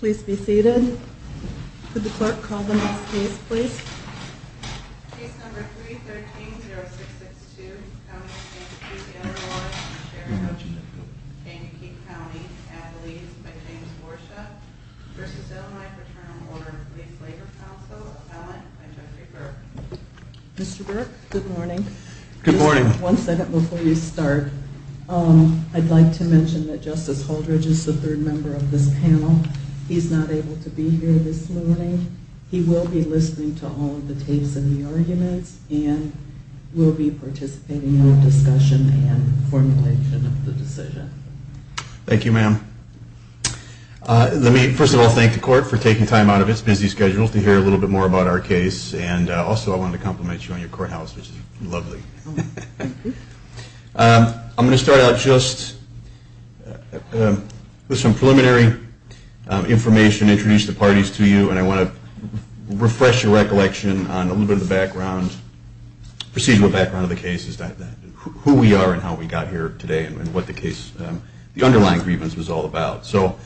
Please be seated. Could the clerk call the next case, please? Case number 313-0662, County of Kankakee, Illinois, Sheraton, Kankakee County, Adelaide, by James Worsha, v. Illinois Fraternal Order of Police Labor Council, Appellant, by Jeffrey Burke Mr. Burke, good morning. One second before you start. I'd like to mention that Justice Holdridge is the third member of this panel. He's not able to be here this morning. He will be listening to all of the tapes and the arguments and will be participating in the discussion and formulation of the decision. Thank you, ma'am. Let me first of all thank the court for taking time out of its busy schedule to hear a little bit more about our case and also I wanted to compliment you on your courthouse, which is lovely. I'm going to start out just with some preliminary information, introduce the parties to you, and I want to refresh your recollection on a little bit of the procedural background of the case, who we are and how we got here today and what the underlying grievance was all about. So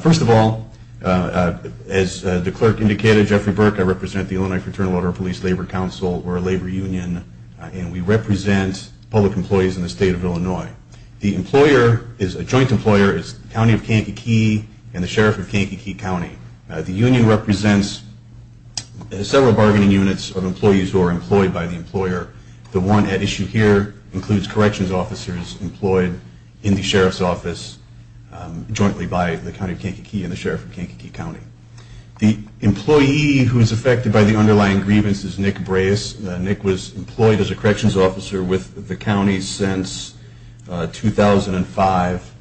first of all, as the clerk indicated, Jeffrey Burke, I represent the Illinois Fraternal Order of Police Labor Council, or Labor Union, and we represent public employees in the state of Illinois. The employer is a joint employer is the County of Kankakee and the Sheriff of Kankakee County. The union represents several bargaining units of employees who are employed by the employer. The one at issue here includes corrections officers employed in the sheriff's office jointly by the County of Kankakee and the Sheriff of Kankakee County. The employee who is affected by the underlying grievance is Nick Breas. Nick was employed as a corrections officer with the county since 2005.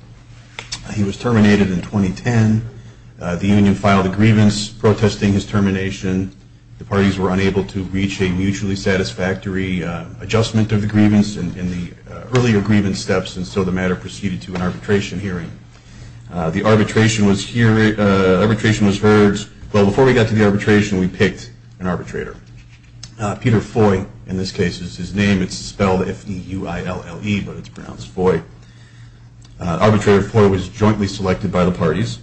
He was terminated in 2010. The union filed a grievance protesting his termination. The parties were unable to reach a mutually satisfactory adjustment of the grievance in the earlier grievance steps, and so the matter proceeded to an arbitration hearing. The arbitration was heard. Well, before we got to the arbitration, we picked an arbitrator. Peter Foy, in this case, is his name. It's spelled F-E-U-I-L-L-E, but it's pronounced Foy. Arbitrator Foy was jointly selected by the parties.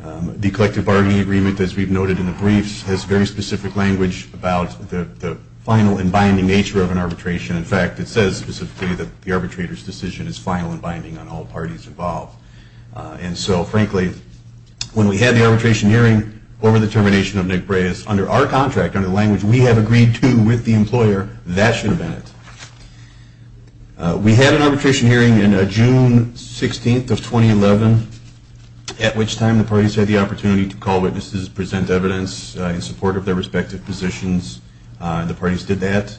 The collective bargaining agreement, as we've noted in the briefs, has very specific language about the final and binding nature of an arbitration. In fact, it says specifically that the arbitrator's decision is final and binding on all parties involved. And so, frankly, when we had the arbitration hearing over the termination of Nick Breas, under our contract, under the language we have agreed to with the employer, that should have been it. We had an arbitration hearing on June 16th of 2011, at which time the parties had the opportunity to call witnesses, present evidence in support of their respective positions. The parties did that.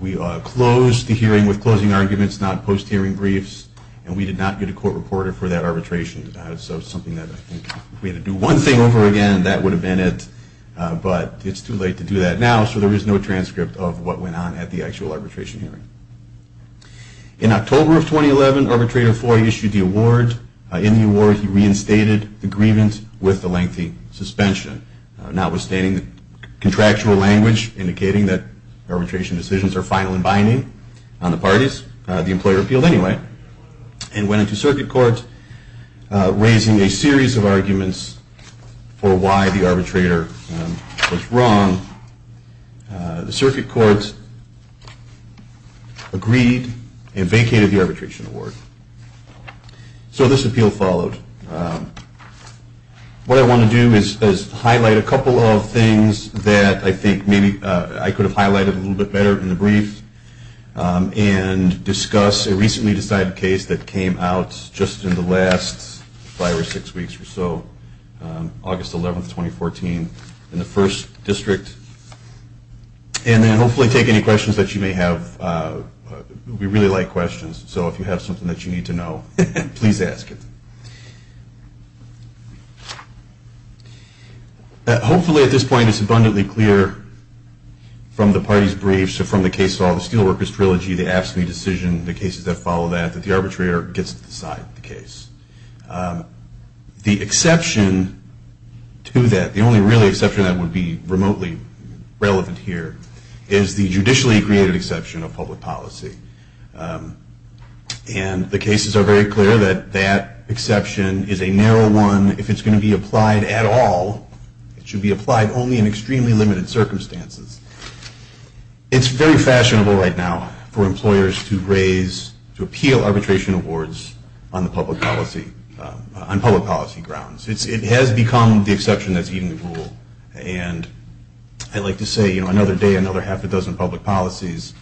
We closed the hearing with closing arguments, not post-hearing briefs, and we did not get a court reporter for that arbitration. So it's something that, I think, if we had to do one thing over again, that would have been it. But it's too late to do that now, so there is no transcript of what went on at the actual arbitration hearing. In October of 2011, Arbitrator Foy issued the award. In the award, he reinstated the grievance with the lengthy suspension. Notwithstanding the contractual language indicating that arbitration decisions are final and binding on the parties, the employer appealed anyway and went into circuit court raising a series of arguments for why the arbitrator was wrong. The circuit court agreed and vacated the arbitration award. So this appeal followed. What I want to do is highlight a couple of things that I think maybe I could have highlighted a little bit better in the brief, and discuss a recently decided case that came out just in the last five or six weeks or so, August 11th, 2014, in the First District. And then hopefully take any questions that you may have. We really like questions, so if you have something that you need to know, please ask it. Hopefully at this point it's abundantly clear from the parties' briefs or from the case of the Steelworkers Trilogy, the AFSCME decision, the cases that follow that, that the arbitrator gets to decide the case. The exception to that, the only really exception that would be remotely relevant here, is the judicially created exception of public policy. And the cases are very clear that that exception is a narrow one. If it's going to be applied at all, it should be applied only in extremely limited circumstances. It's very fashionable right now for employers to raise, to appeal arbitration awards on the public policy, on public policy grounds. It has become the exception that's eaten the rule. And I like to say, you know, another day, another half a dozen public policies,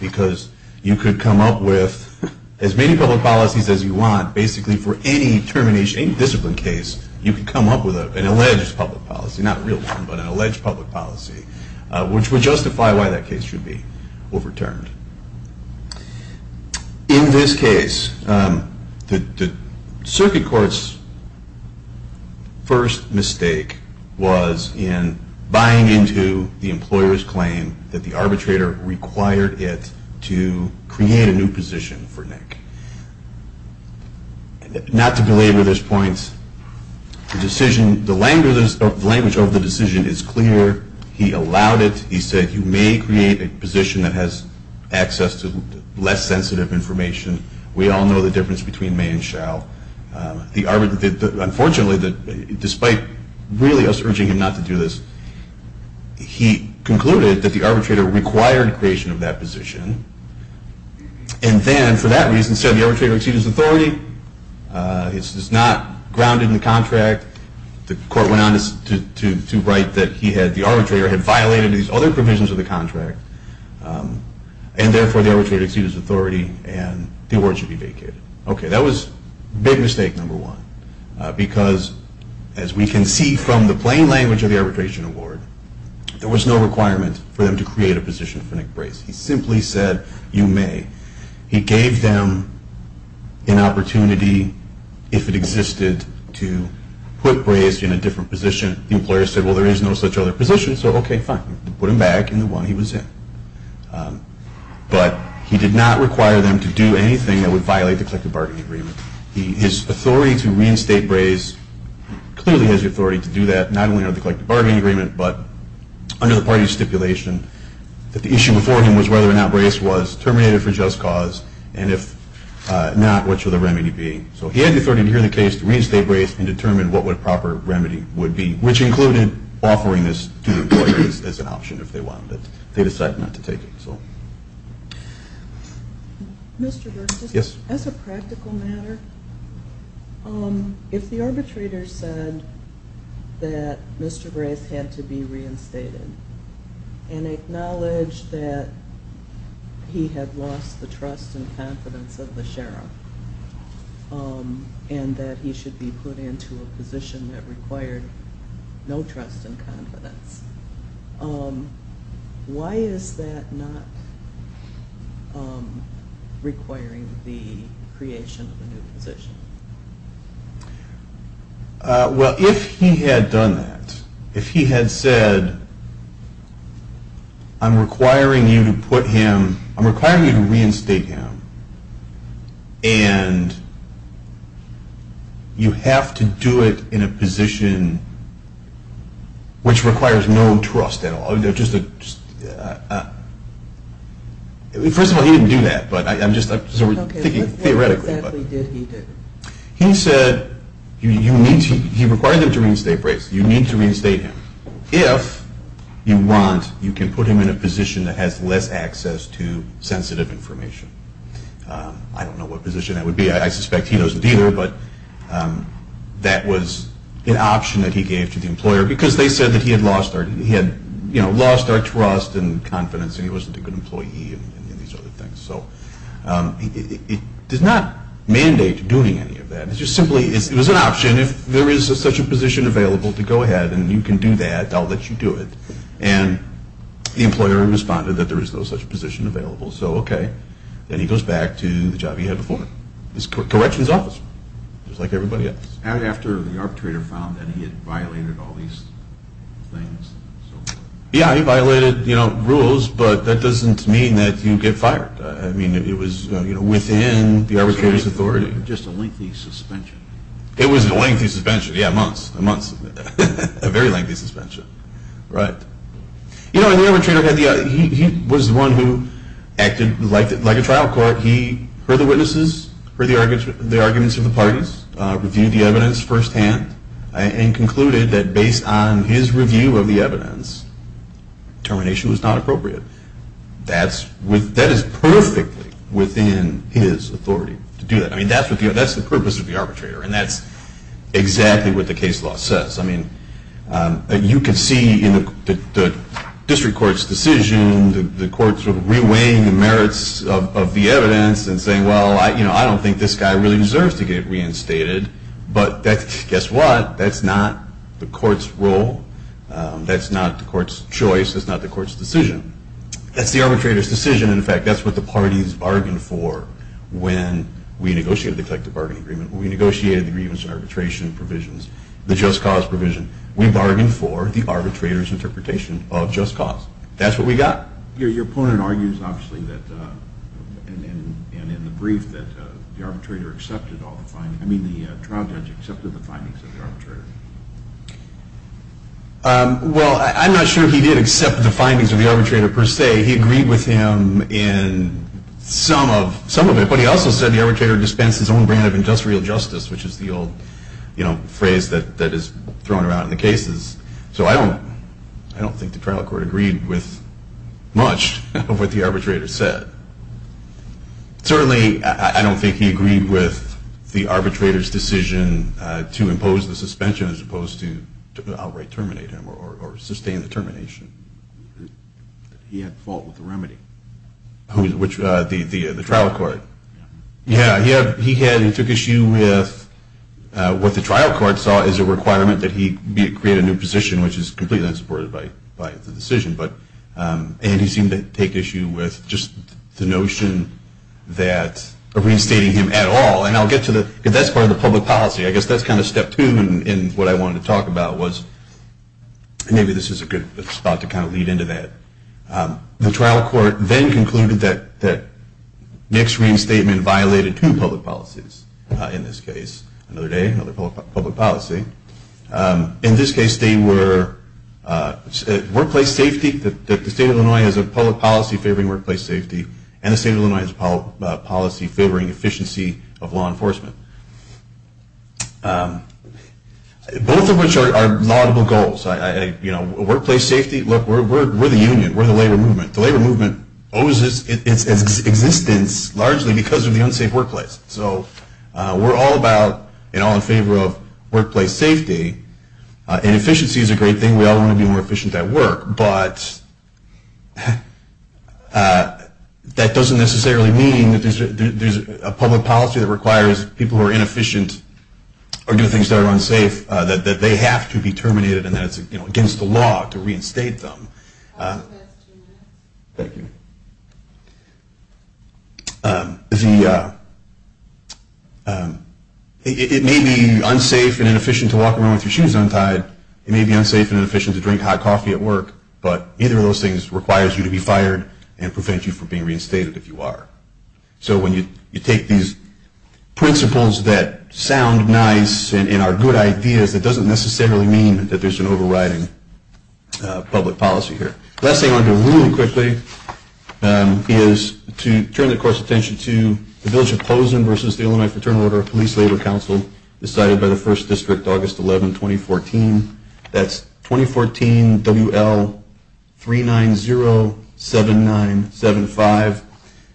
because you could come up with as many public policies as you want, basically for any termination, any discipline case, you could come up with an alleged public policy, not a real one, but an alleged public policy. Which would justify why that case should be overturned. In this case, the circuit court's first mistake was in buying into the employer's claim that the arbitrator required it to create a new position for Nick. Not to belabor this point, the language of the decision is clear. He allowed it. He said, you may create a position that has access to less sensitive information. We all know the difference between may and shall. Unfortunately, despite really us urging him not to do this, he concluded that the arbitrator required creation of that position. And then, for that reason, said the arbitrator exceeded his authority. It's not grounded in the contract. The court went on to write that the arbitrator had violated these other provisions of the contract. And therefore, the arbitrator exceeded his authority and the award should be vacated. Okay, that was big mistake number one. Because, as we can see from the plain language of the arbitration award, there was no requirement for them to create a position for Nick Brace. He simply said, you may. He gave them an opportunity, if it existed, to put Brace in a different position. The employer said, well, there is no such other position, so okay, fine. Put him back in the one he was in. But he did not require them to do anything that would violate the collective bargaining agreement. His authority to reinstate Brace clearly has the authority to do that, not only under the collective bargaining agreement, but under the parties stipulation that the issue before him was whether or not Brace was terminated for just cause. And if not, what should the remedy be? So he had the authority to hear the case, to reinstate Brace, and determine what the proper remedy would be. Which included offering this to the employer as an option, if they wanted. They decided not to take it. Mr. Burke, as a practical matter, if the arbitrator said that Mr. Brace had to be reinstated, and acknowledged that he had lost the trust and confidence of the sheriff, and that he should be put into a position that required no trust and confidence, why is that not requiring the creation of a new position? Well, if he had done that, if he had said, I'm requiring you to reinstate him, and you have to do it in a position which requires no trust at all. First of all, he didn't do that, but I'm just thinking theoretically. What exactly did he do? He said, he required them to reinstate Brace. You need to reinstate him. If you want, you can put him in a position that has less access to sensitive information. I don't know what position that would be. I suspect he doesn't either, but that was an option that he gave to the employer, because they said that he had lost our trust and confidence, and he wasn't a good employee, and these other things. It does not mandate doing any of that. It's just simply, it was an option. If there is such a position available, to go ahead and you can do that. I'll let you do it. And the employer responded that there is no such position available. So, okay. Then he goes back to the job he had before. His corrections officer, just like everybody else. And after the arbitrator found that he had violated all these things. Yeah, he violated rules, but that doesn't mean that you get fired. I mean, it was within the arbitrator's authority. It was just a lengthy suspension. It was a lengthy suspension. Yeah, months. A very lengthy suspension. Right. You know, the arbitrator, he was the one who acted like a trial court. He heard the witnesses, heard the arguments of the parties, reviewed the evidence firsthand, and concluded that based on his review of the evidence, termination was not appropriate. That is perfectly within his authority to do that. I mean, that's the purpose of the arbitrator, and that's exactly what the case law says. I mean, you can see in the district court's decision, the courts were re-weighing the merits of the evidence, and saying, well, I don't think this guy really deserves to get reinstated. But guess what? That's not the court's role. That's not the court's choice. That's not the court's decision. That's the arbitrator's decision. In fact, that's what the parties bargained for when we negotiated the collective bargaining agreement. When we negotiated the grievance arbitration provisions. The just cause provision. We bargained for the arbitrator's interpretation of just cause. That's what we got. Your opponent argues, obviously, and in the brief, that the trial judge accepted the findings of the arbitrator. Well, I'm not sure he did accept the findings of the arbitrator, per se. He agreed with him in some of it, but he also said the arbitrator dispensed his own brand of industrial justice, which is the old phrase that is thrown around in the cases. So I don't think the trial court agreed with much of what the arbitrator said. Certainly, I don't think he agreed with the arbitrator's decision to impose the suspension as opposed to outright terminate him or sustain the termination. He had fault with the remedy. The trial court? Yeah. He took issue with what the trial court saw as a requirement that he create a new position, which is completely unsupported by the decision. And he seemed to take issue with just the notion of reinstating him at all. That's part of the public policy. I guess that's kind of step two in what I wanted to talk about. Maybe this is a good spot to kind of lead into that. The trial court then concluded that Nick's reinstatement violated two public policies in this case. Another day, another public policy. In this case, they were workplace safety. The state of Illinois has a public policy favoring workplace safety, and the state of Illinois has a policy favoring efficiency of law enforcement. Both of which are laudable goals. Workplace safety, look, we're the union. We're the labor movement. The labor movement owes its existence largely because of the unsafe workplace. So we're all about and all in favor of workplace safety. And efficiency is a great thing. We all want to be more efficient at work. But that doesn't necessarily mean that there's a public policy that requires people who are inefficient or do things that are unsafe that they have to be terminated and that it's against the law to reinstate them. Thank you. It may be unsafe and inefficient to walk around with your shoes untied. It may be unsafe and inefficient to drink hot coffee at work. But either of those things requires you to be fired and prevent you from being reinstated if you are. So when you take these principles that sound nice and are good ideas, it doesn't necessarily mean that there's an overriding public policy here. Last thing I want to do really quickly is to turn the course of attention to the Village of Pozen versus the Illinois Fraternal Order of Police Labor Council decided by the 1st District August 11, 2014. That's 2014 WL3907975.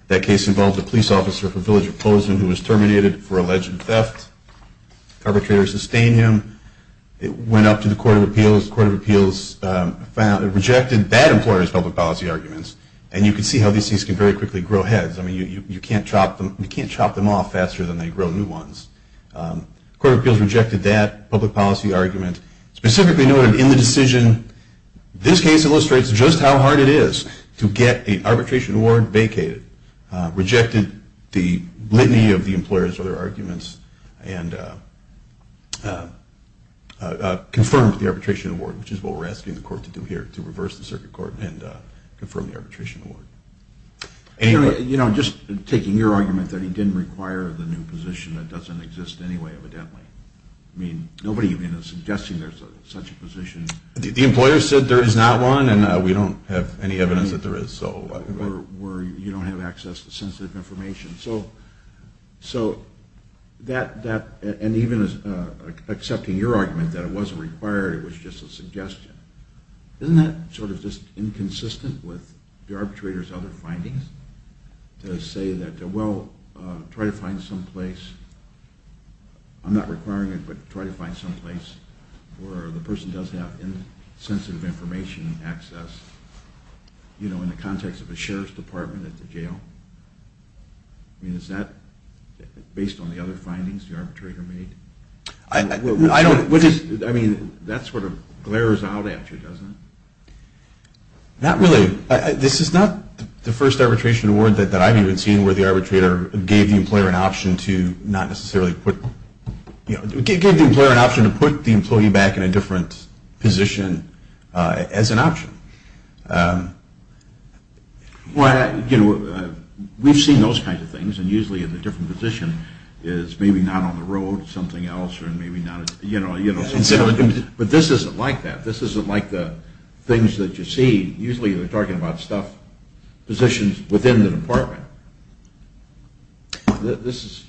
This case involved a police officer from Village of Pozen who was terminated for alleged theft. Arbitrators sustained him. It went up to the Court of Appeals. The Court of Appeals rejected that employer's public policy arguments. And you can see how these things can very quickly grow heads. You can't chop them off faster than they grow new ones. The Court of Appeals rejected that public policy argument. Specifically noted in the decision, this case illustrates just how hard it is to get an arbitration warrant vacated. Rejected the litany of the employer's other arguments and confirmed the arbitration warrant, which is what we're asking the Court to do here, to reverse the circuit court and confirm the arbitration warrant. You know, just taking your argument that he didn't require the new position, that doesn't exist anyway, evidently. I mean, nobody even is suggesting there's such a position. The employer said there is not one, and we don't have any evidence that there is. Or you don't have access to sensitive information. So that, and even accepting your argument that it wasn't required, it was just a suggestion, isn't that sort of just inconsistent with the arbitrator's other findings? To say that, well, try to find some place, I'm not requiring it, but try to find some place where the person does have sensitive information access, you know, in the context of a sheriff's department at the jail. I mean, is that based on the other findings the arbitrator made? I don't, which is, I mean, that sort of glares out at you, doesn't it? Not really. This is not the first arbitration warrant that I've even seen where the arbitrator gave the employer an option to not necessarily put, you know, gave the employer an option to put the employee back in a different position as an option. Well, you know, we've seen those kinds of things, and usually in a different position is maybe not on the road, something else, or maybe not, you know, you know. But this isn't like that. This isn't like the things that you see, usually they're talking about stuff, positions within the department. This is,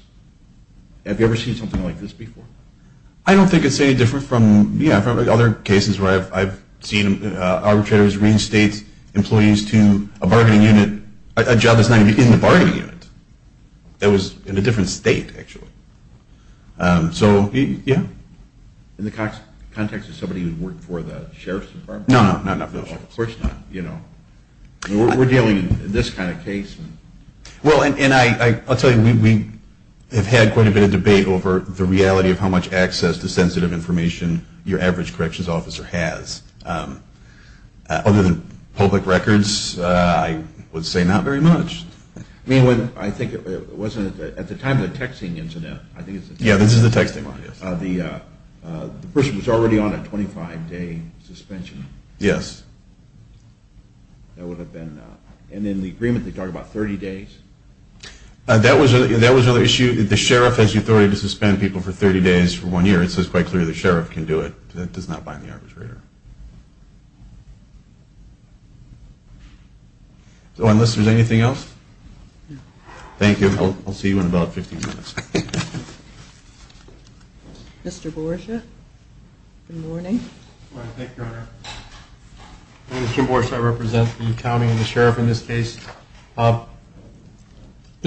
have you ever seen something like this before? I don't think it's any different from, yeah, from other cases where I've seen arbitrators reinstate employees to a bargaining unit, a job that's not even in the bargaining unit. That was in a different state, actually. So, yeah. In the context of somebody who worked for the sheriff's department? No, no, not for the sheriff's department. Of course not, you know. We're dealing in this kind of case. Well, and I'll tell you, we have had quite a bit of debate over the reality of how much access to sensitive information your average corrections officer has. Other than public records, I would say not very much. I mean, I think it wasn't at the time of the texting incident. Yeah, this is the texting one, yes. The person was already on a 25-day suspension. Yes. That would have been, and in the agreement they talk about 30 days? That was another issue. The sheriff has the authority to suspend people for 30 days for one year. It's just quite clear the sheriff can do it. That does not bind the arbitrator. So, unless there's anything else? No. Thank you. I'll see you in about 15 minutes. Okay. Mr. Borcia, good morning. Good morning. Thank you, Your Honor. I'm Tim Borcia. I represent the county and the sheriff in this case. The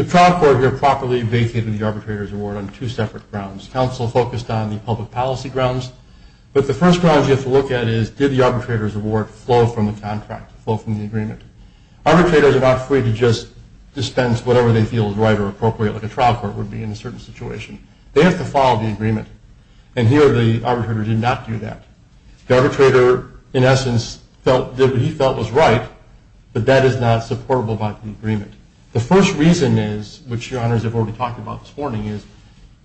trial court here properly vacated the arbitrator's award on two separate grounds. Council focused on the public policy grounds, but the first ground you have to look at is did the arbitrator's award flow from the contract, flow from the agreement? Arbitrators are not free to just dispense whatever they feel is right or appropriate like a trial court would be in a certain situation. They have to follow the agreement, and here the arbitrator did not do that. The arbitrator, in essence, did what he felt was right, but that is not supportable by the agreement. The first reason is, which Your Honors have already talked about this morning, is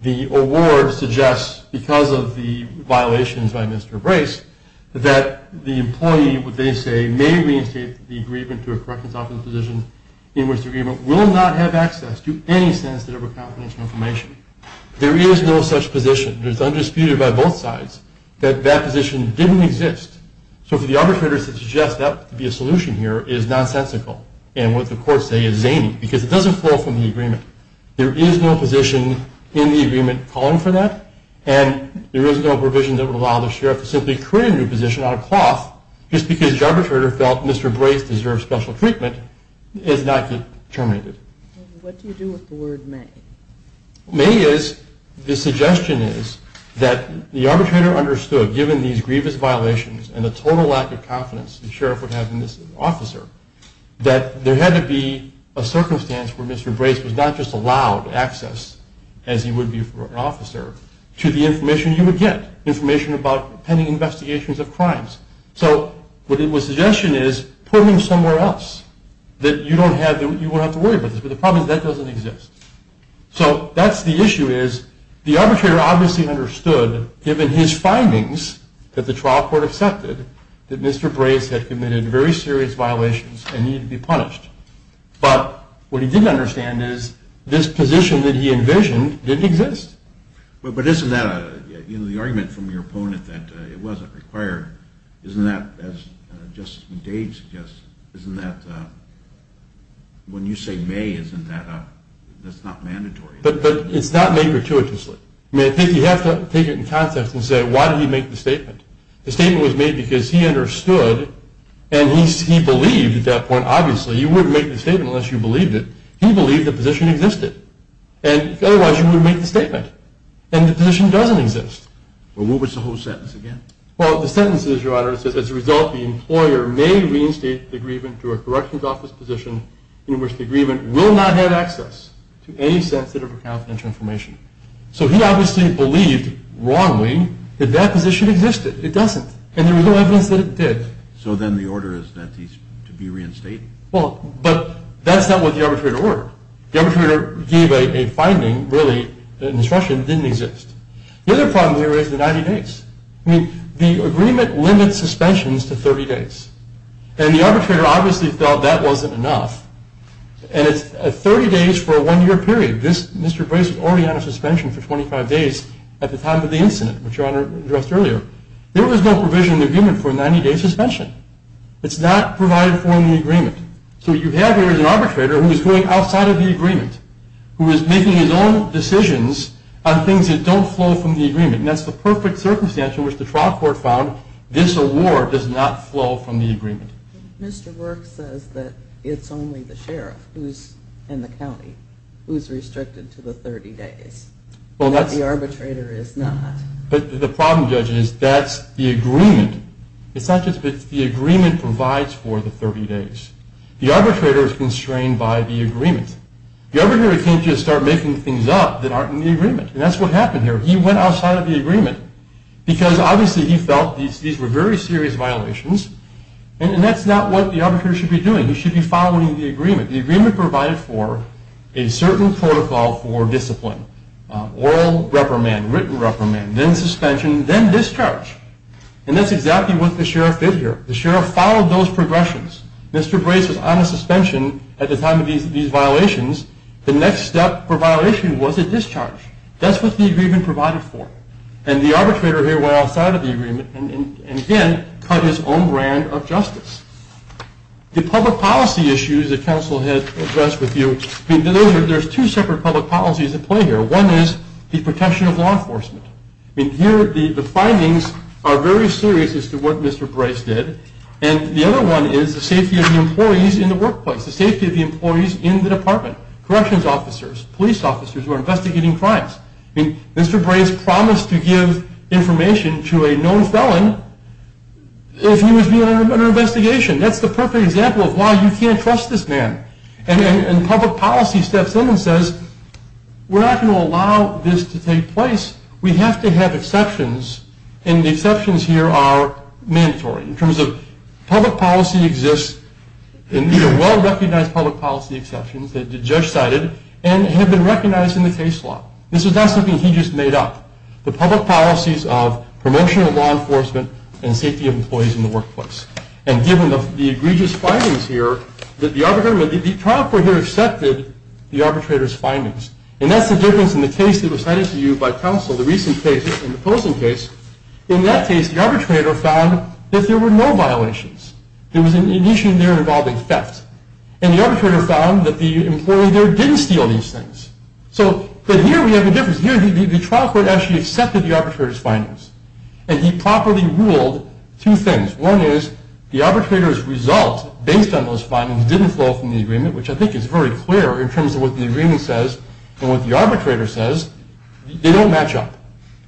the award suggests, because of the violations by Mr. Brace, that the employee, what they say, may reinstate the agreement to a corrections office position in which the agreement will not have access to any sensitive or confidential information. There is no such position. It is undisputed by both sides that that position didn't exist. So for the arbitrator to suggest that would be a solution here is nonsensical, and what the courts say is zany because it doesn't flow from the agreement. There is no position in the agreement calling for that, and there is no provision that would allow the sheriff to simply create a new position out of cloth just because the arbitrator felt Mr. Brace deserved special treatment is not yet terminated. What do you do with the word may? May is, the suggestion is, that the arbitrator understood, given these grievous violations and the total lack of confidence the sheriff would have in this officer, that there had to be a circumstance where Mr. Brace was not just allowed access, as he would be for an officer, to the information you would get, information about pending investigations of crimes. So what the suggestion is, put him somewhere else, that you don't have to worry about this, but the problem is that doesn't exist. So that's the issue is, the arbitrator obviously understood, given his findings that the trial court accepted, that Mr. Brace had committed very serious violations and needed to be punished. But what he didn't understand is, this position that he envisioned didn't exist. But isn't that, you know, the argument from your opponent that it wasn't required, isn't that, as Justice Dade suggests, isn't that, when you say may, isn't that, that's not mandatory? But it's not made gratuitously. I mean, you have to take it in context and say, why did he make the statement? The statement was made because he understood, and he believed at that point, obviously, you wouldn't make the statement unless you believed it. He believed the position existed. And otherwise, you wouldn't make the statement. And the position doesn't exist. Well, what was the whole sentence again? Well, the sentence is, Your Honor, it says, as a result, the employer may reinstate the agreement to a corrections office position in which the agreement will not have access to any sensitive or confidential information. So he obviously believed, wrongly, that that position existed. It doesn't. And there was no evidence that it did. So then the order is that he's to be reinstated? Well, but that's not what the arbitrator ordered. The arbitrator gave a finding, really, an instruction that didn't exist. The other problem here is the 90 days. I mean, the agreement limits suspensions to 30 days. And the arbitrator obviously felt that wasn't enough. And it's 30 days for a one-year period. Mr. Brace was already on a suspension for 25 days at the time of the incident, which Your Honor addressed earlier. There was no provision in the agreement for a 90-day suspension. It's not provided for in the agreement. So what you have here is an arbitrator who is going outside of the agreement, who is making his own decisions on things that don't flow from the agreement. And that's the perfect circumstance in which the trial court found this award does not flow from the agreement. Mr. Work says that it's only the sheriff who's in the county who's restricted to the 30 days, that the arbitrator is not. But the problem, Judge, is that's the agreement. It's not just that the agreement provides for the 30 days. The arbitrator is constrained by the agreement. The arbitrator can't just start making things up that aren't in the agreement. And that's what happened here. He went outside of the agreement because, obviously, he felt these were very serious violations. And that's not what the arbitrator should be doing. He should be following the agreement. The agreement provided for a certain protocol for discipline. Oral reprimand, written reprimand, then suspension, then discharge. And that's exactly what the sheriff did here. The sheriff followed those progressions. Mr. Brace was on a suspension at the time of these violations. The next step for violation was a discharge. That's what the agreement provided for. And the arbitrator here went outside of the agreement and, again, cut his own brand of justice. The public policy issues that counsel had addressed with you, there's two separate public policies at play here. One is the protection of law enforcement. Here, the findings are very serious as to what Mr. Brace did. And the other one is the safety of the employees in the workplace, the safety of the employees in the department, corrections officers, police officers who are investigating crimes. Mr. Brace promised to give information to a known felon if he was being under investigation. That's the perfect example of why you can't trust this man. And public policy steps in and says, we're not going to allow this to take place. We have to have exceptions. And the exceptions here are mandatory. In terms of public policy exists, well-recognized public policy exceptions that the judge cited and have been recognized in the case law. This is not something he just made up. The public policies of promotion of law enforcement and safety of employees in the workplace. the trial court here accepted the arbitrator's findings and that's the difference in the case that was cited to you by counsel, the recent case and the Postman case. In that case, the arbitrator found that there were no violations. There was an issue there involving theft. And the arbitrator found that the employee there didn't steal these things. So, but here we have a difference. Here, the trial court actually accepted the arbitrator's findings. And he properly ruled two things. One is the arbitrator's result based on those findings didn't flow from the agreement, which I think is very clear in terms of what the agreement says. And what the arbitrator says, they don't match up.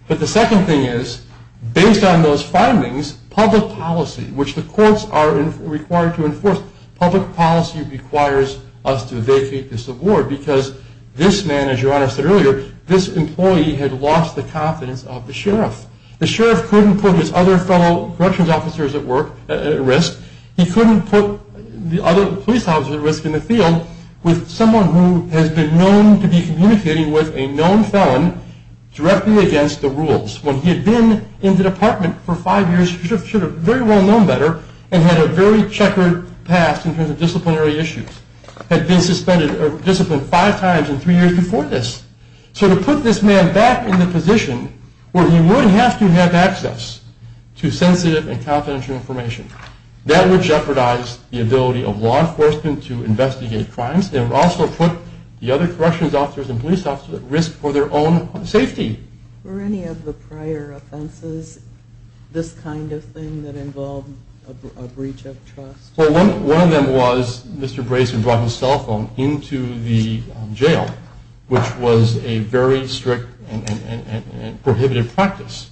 But the second thing is, based on those findings, public policy, which the courts are required to enforce, public policy requires us to vacate this award because this man, as your Honor said earlier, this employee had lost the confidence of the sheriff. The sheriff couldn't put his other fellow corrections officers at work, at risk. He couldn't put the other police officers at risk in the field with someone who has been known to be communicating with a known felon directly against the rules. When he had been in the department for five years, he should have very well known better and had a very checkered past in terms of disciplinary issues. Had been suspended or disciplined five times and three years before this. So to put this man back in the position where he wouldn't have to have access to sensitive and confidential information, that would jeopardize the ability of law enforcement to investigate crimes. They would also put the other corrections officers and police officers at risk for their own safety. Were any of the prior offenses this kind of thing that involved a breach of trust? Well, one of them was Mr. Brayson brought his cell phone into the jail, which was a very strict and prohibitive practice.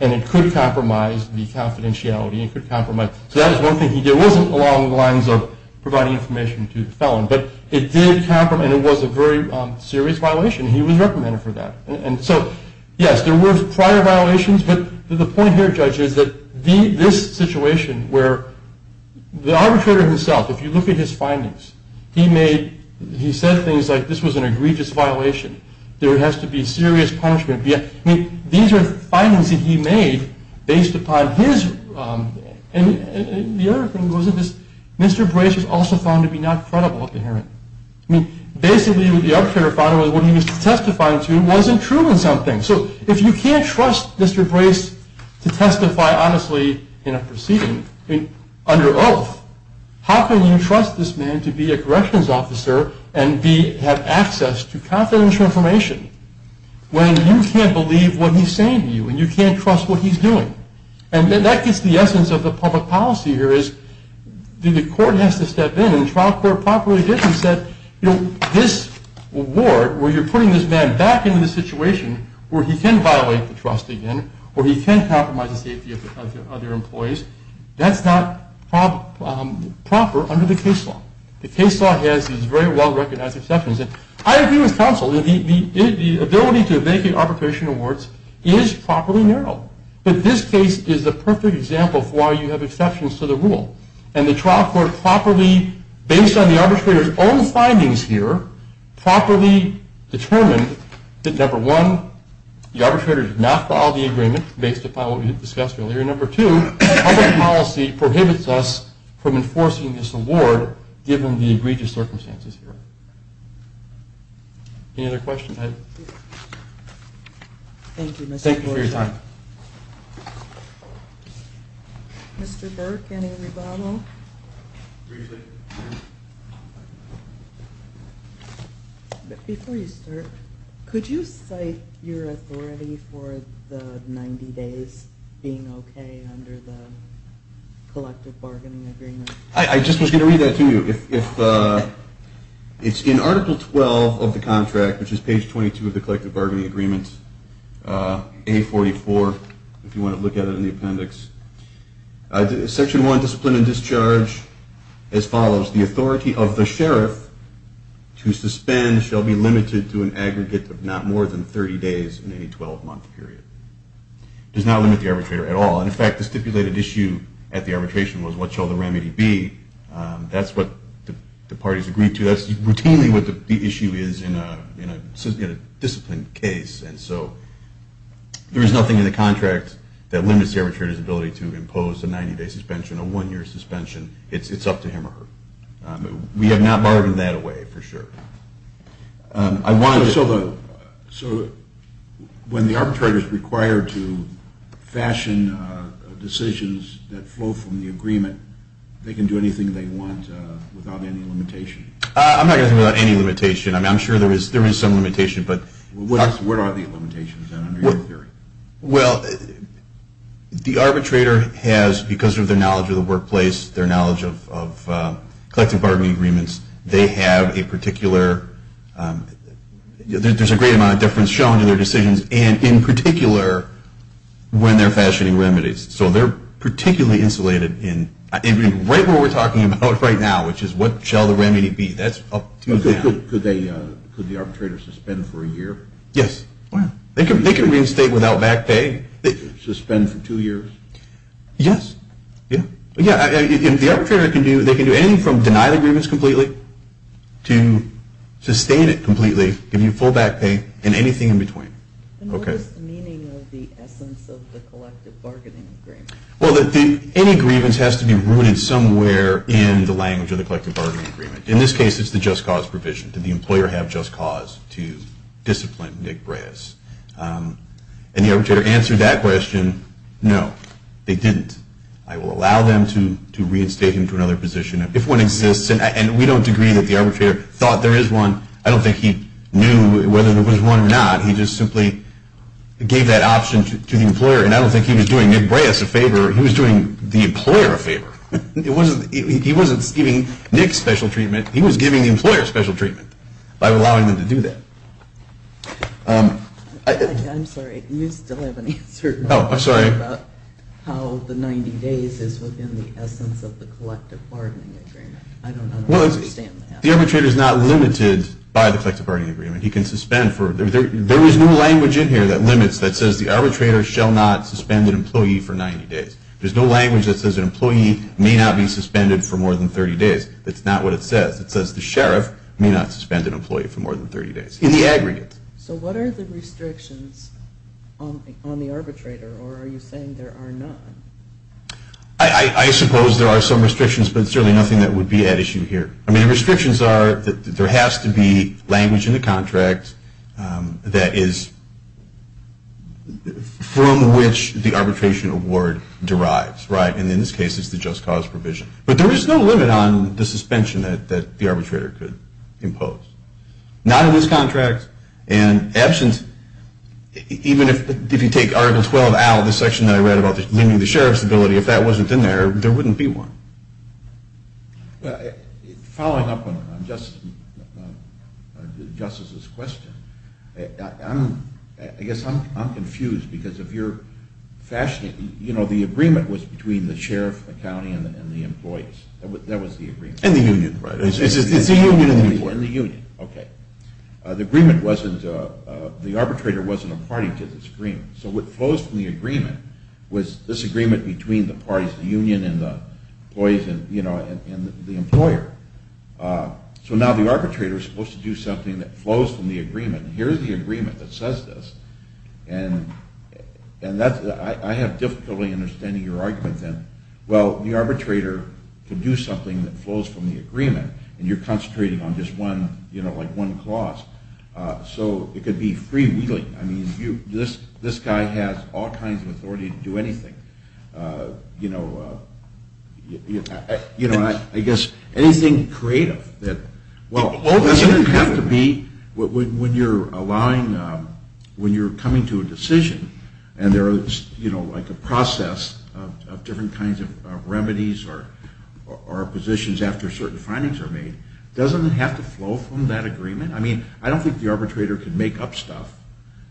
And it could compromise the confidentiality. It could compromise. So that is one thing he did. It was not a violation to the felon, but it did compromise. It was a very serious violation. He was recommended for that. And so, yes, there were prior violations, but the point here, Judge, is that this situation where the arbitrator himself, if you look at his findings, he said things like this was an egregious violation. There has to be serious punishment. These are findings that he made based upon his... And the other thing was that Mr. Brayson was not credible at the hearing. I mean, basically what the arbitrator found was what he was testifying to wasn't true in some things. So if you can't trust Mr. Brayson to testify honestly in a proceeding, under oath, how can you trust this man to be a corrections officer and have access to confidential information when you can't believe what he's saying to you and you can't trust what he's doing? And that gets to the essence of the public policy here, which is the court has to step in, and the trial court properly did and said, you know, this award, where you're putting this man back into the situation where he can violate the trust again, where he can compromise the safety of other employees, that's not proper under the case law. The case law has these very well-recognized exceptions. And I agree with counsel. The ability to make arbitration awards is properly narrow, but this case is a perfect example of why you have exceptions to the rule. And the trial court properly, based on the arbitrator's own findings here, properly determined that number one, the arbitrator did not file the agreement based upon what we discussed earlier, and number two, public policy prohibits us from enforcing this award given the egregious circumstances here. Any other questions? Thank you. Thank you for your time. Mr. Burke, any rebuttal? Briefly. Before you start, could you cite your authority for the 90 days being okay under the collective bargaining agreement? I just was going to read that to you. It's in Article 12 of the contract, which is page 22 of the collective bargaining agreement, A44, if you want to look at it in the appendix. Section 1, discipline and discharge, as follows, the authority of the sheriff to suspend shall be limited to an aggregate of not more than 30 days in any 12-month period. It does not limit the arbitrator at all. In fact, the stipulated issue at the arbitration was what shall the remedy be. That's what the parties agreed to. That's routinely what the issue is in a disciplined case, and so there is nothing in the contract that limits the arbitrator's ability to impose a 90-day suspension, a one-year suspension. It's up to him or her. We have not bargained that away, for sure. I wanted to... So when the arbitrator is required to fashion decisions that flow from the agreement, they can do anything they want without any limitation? I'm not going to say without any limitation. I'm sure there is some limitation, but... What are the limitations, then, under your theory? Well, the arbitrator has, because of their knowledge of the workplace, their knowledge of collective bargaining agreements, they have a particular... There's a great amount of difference shown in their decisions, and in particular, when they're fashioning remedies. So they're particularly insulated in... Right where we're talking about right now, which is what shall the remedy be. That's up to them. Could the arbitrator suspend for a year? Yes. They can reinstate without back pay. Suspend for two years? Yes. The arbitrator can do anything from deny the grievance completely to sustain it completely, give you full back pay, and anything in between. And what is the meaning of the essence of the collective bargaining agreement? Well, any grievance has to be rooted somewhere in the language of the collective bargaining agreement. In this case, it's the just cause provision. It's the just cause provision for the plaintiff, Nick Breas. And the arbitrator answered that question, no, they didn't. I will allow them to reinstate him to another position if one exists, and we don't agree that the arbitrator thought there is one. I don't think he knew whether there was one or not. He just simply gave that option to the employer, and I don't think he was doing Nick Breas a favor. He was doing the employer a favor. He wasn't giving Nick special treatment. He was giving the employer special treatment to the employer. I'm sorry, you still haven't answered. Oh, I'm sorry. How the 90 days is within the essence of the collective bargaining agreement. I don't understand that. Well, the arbitrator is not limited by the collective bargaining agreement. He can suspend for, there is no language in here that limits that says the arbitrator shall not suspend an employee for 90 days. There's no language that says an employee may not be suspended for more than 30 days. That's not what it says. So what are the restrictions on the arbitrator, or are you saying there are none? I suppose there are some restrictions, but certainly nothing that would be at issue here. I mean, the restrictions are that there has to be language in the contract that is from which the arbitration award derives. And in this case, it's the just cause provision. But there is no limit on the suspension that the arbitrator could impose. Not in this contract, and absence, even if you take Article 12 out of the section that I read about limiting the sheriff's ability, if that wasn't in there, there wouldn't be one. Following up on Justice's question, I guess I'm confused, because if you're fashioning, you know, the agreement was between the sheriff, the county, and the employees. That was the agreement. And the union, right. But the agreement wasn't, the arbitrator wasn't a party to this agreement. So what flows from the agreement was this agreement between the parties, the union and the employees, and, you know, the employer. So now the arbitrator is supposed to do something that flows from the agreement. Here is the agreement that says this. And I have difficulty understanding your argument then. Well, the arbitrator could do something that flows from the agreement, and you're concentrating on just one, so it could be freewheeling. I mean, this guy has all kinds of authority to do anything. You know, I guess anything creative. Well, doesn't it have to be, when you're allowing, when you're coming to a decision, and there is, you know, like a process of different kinds of remedies or positions after certain findings are made, doesn't it have to flow from that agreement? I mean, I don't think the arbitrator can make up stuff.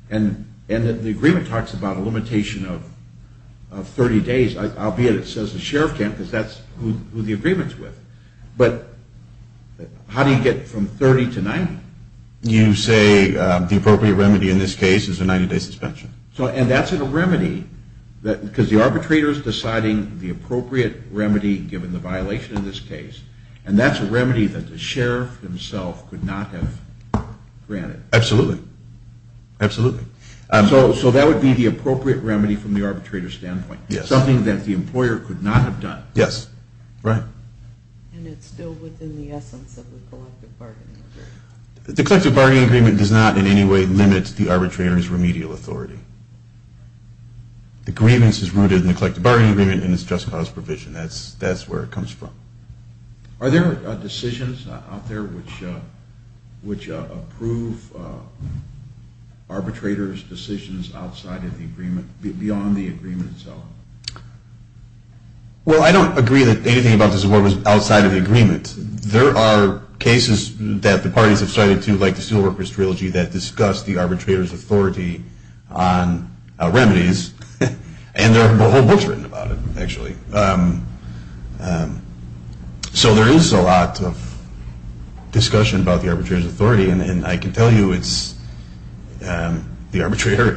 And the agreement talks about a limitation of 30 days, albeit it says the sheriff can't because that's who the agreement is with. But how do you get from 30 to 90? You say the appropriate remedy in this case is a 90-day suspension. And that's a remedy, because the arbitrator is deciding the appropriate remedy given the violation in this case, and that's a remedy that the sheriff has granted. Absolutely. Absolutely. So that would be the appropriate remedy from the arbitrator's standpoint, something that the employer could not have done. Yes, right. And it's still within the essence of the collective bargaining agreement. The collective bargaining agreement does not in any way limit the arbitrator's remedial authority. The grievance is rooted in the collective bargaining agreement to approve arbitrator's decisions outside of the agreement, beyond the agreement itself. Well, I don't agree that anything about this award was outside of the agreement. There are cases that the parties have cited, too, like the Steelworkers Trilogy that discuss the arbitrator's authority on remedies, written about it, actually. So there is a lot of discussion about the arbitrator's authority, and I can tell you the arbitrator,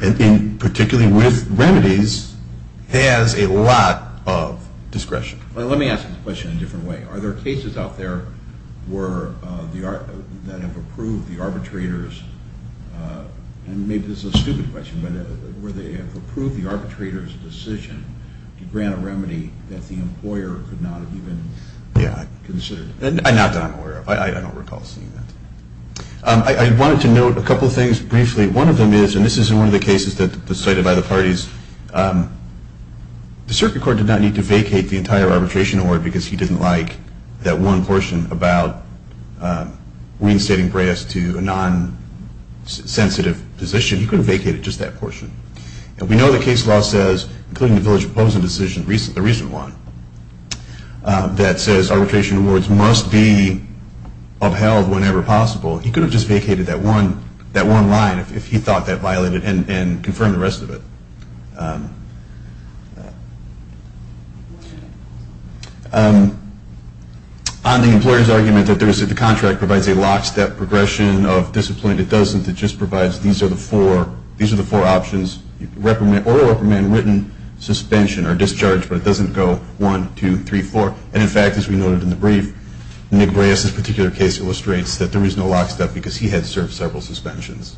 particularly with remedies, has a lot of discretion. Let me ask this question in a different way. Are there cases out there that have approved the arbitrator's, and maybe this is a stupid question, but where they have approved the arbitrator's decision to grant a remedy that the employer could not have even considered? Not that I'm aware of. I don't recall seeing that. I wanted to note a couple things briefly. One of them is, and this is in one of the cases that was cited by the parties, the circuit court did not need to vacate the entire arbitration award because he didn't like that one portion about reinstating brass to a non-sensitive position. He could have vacated just that portion. And we know the case law says, including the Village Opposing Decision, the recent one, that says arbitration awards must be upheld whenever possible. He could have just vacated that one line if he thought that violated and confirmed the rest of it. On the employer's argument that the contract provides a lockstep progression of discipline, it doesn't. It just provides these are the four options. Order reprimand, written suspension, or discharge, but it doesn't go one, two, three, four. And in fact, as we noted in the brief, Nick Brayes' particular case illustrates that there was no lockstep because he had served several suspensions.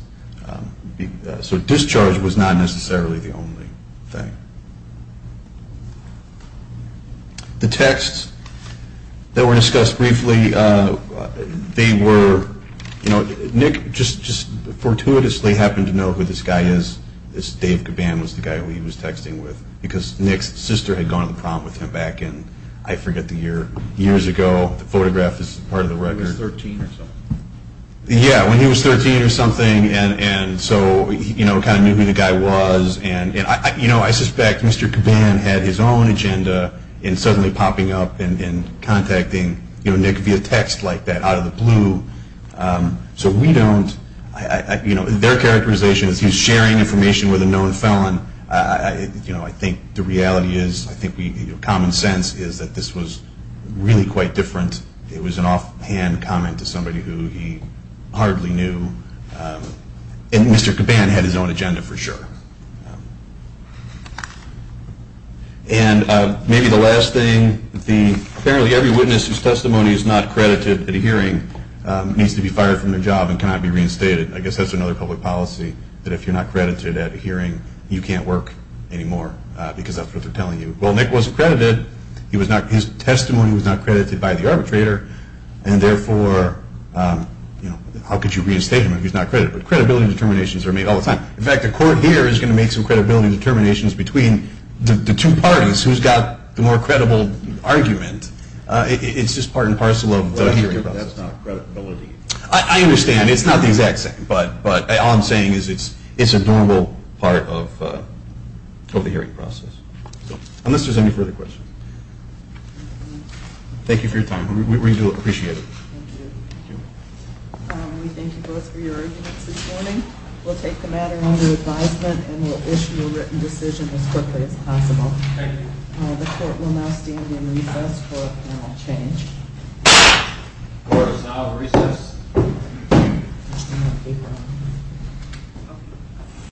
So discharge was not necessarily the only thing. The texts that were discussed briefly, they were, Nick just fortuitously happened to know who this guy is. This Dave Caban was the guy who he was texting with because Nick's sister had gone on the prom with him back in, I forget the year, years ago. The photograph is part of the record. He was 13 or something. Yeah, when he was 13 or something and so, you know, kind of knew who the guy was and, you know, I suspect Mr. Caban had his own agenda in suddenly popping up and contacting, you know, Nick via text like that out of the blue. So we don't, you know, their characterization is he's sharing information with a known felon. I, you know, I think the reality is, I think we, common sense is that this was really quite different. It was an offhand comment to somebody who he hardly knew. And Mr. Caban for sure. And, maybe the last thing, the, apparently every witness whose testimony is not credited at a hearing needs to be fired from their job and cannot be reinstated. I guess that's another public policy that if you're not credited at a hearing, you can't work anymore because that's what they're telling you. Well, Nick was credited. He was not, his testimony was not credited by the arbitrator and therefore, you know, how could you reinstate him if he's not credited? But credibility determinations are made all the time. In fact, the court here is going to make some credibility determinations between the two parties who's got the more credible argument. It's just part and parcel of the hearing process. Well, that's not credibility. I understand. It's not the exact same, but all I'm saying is it's a normal part of the hearing process. Unless there's any further questions. Thank you for your time. We do appreciate it. Thank you. Thank you. We thank you both for your arguments this morning. We'll take the matter under advisement and we'll issue a written decision as quickly as possible. Thank you. The court will now stand in recess for apparent change. Thank you. Thank you. The court is now Thank you.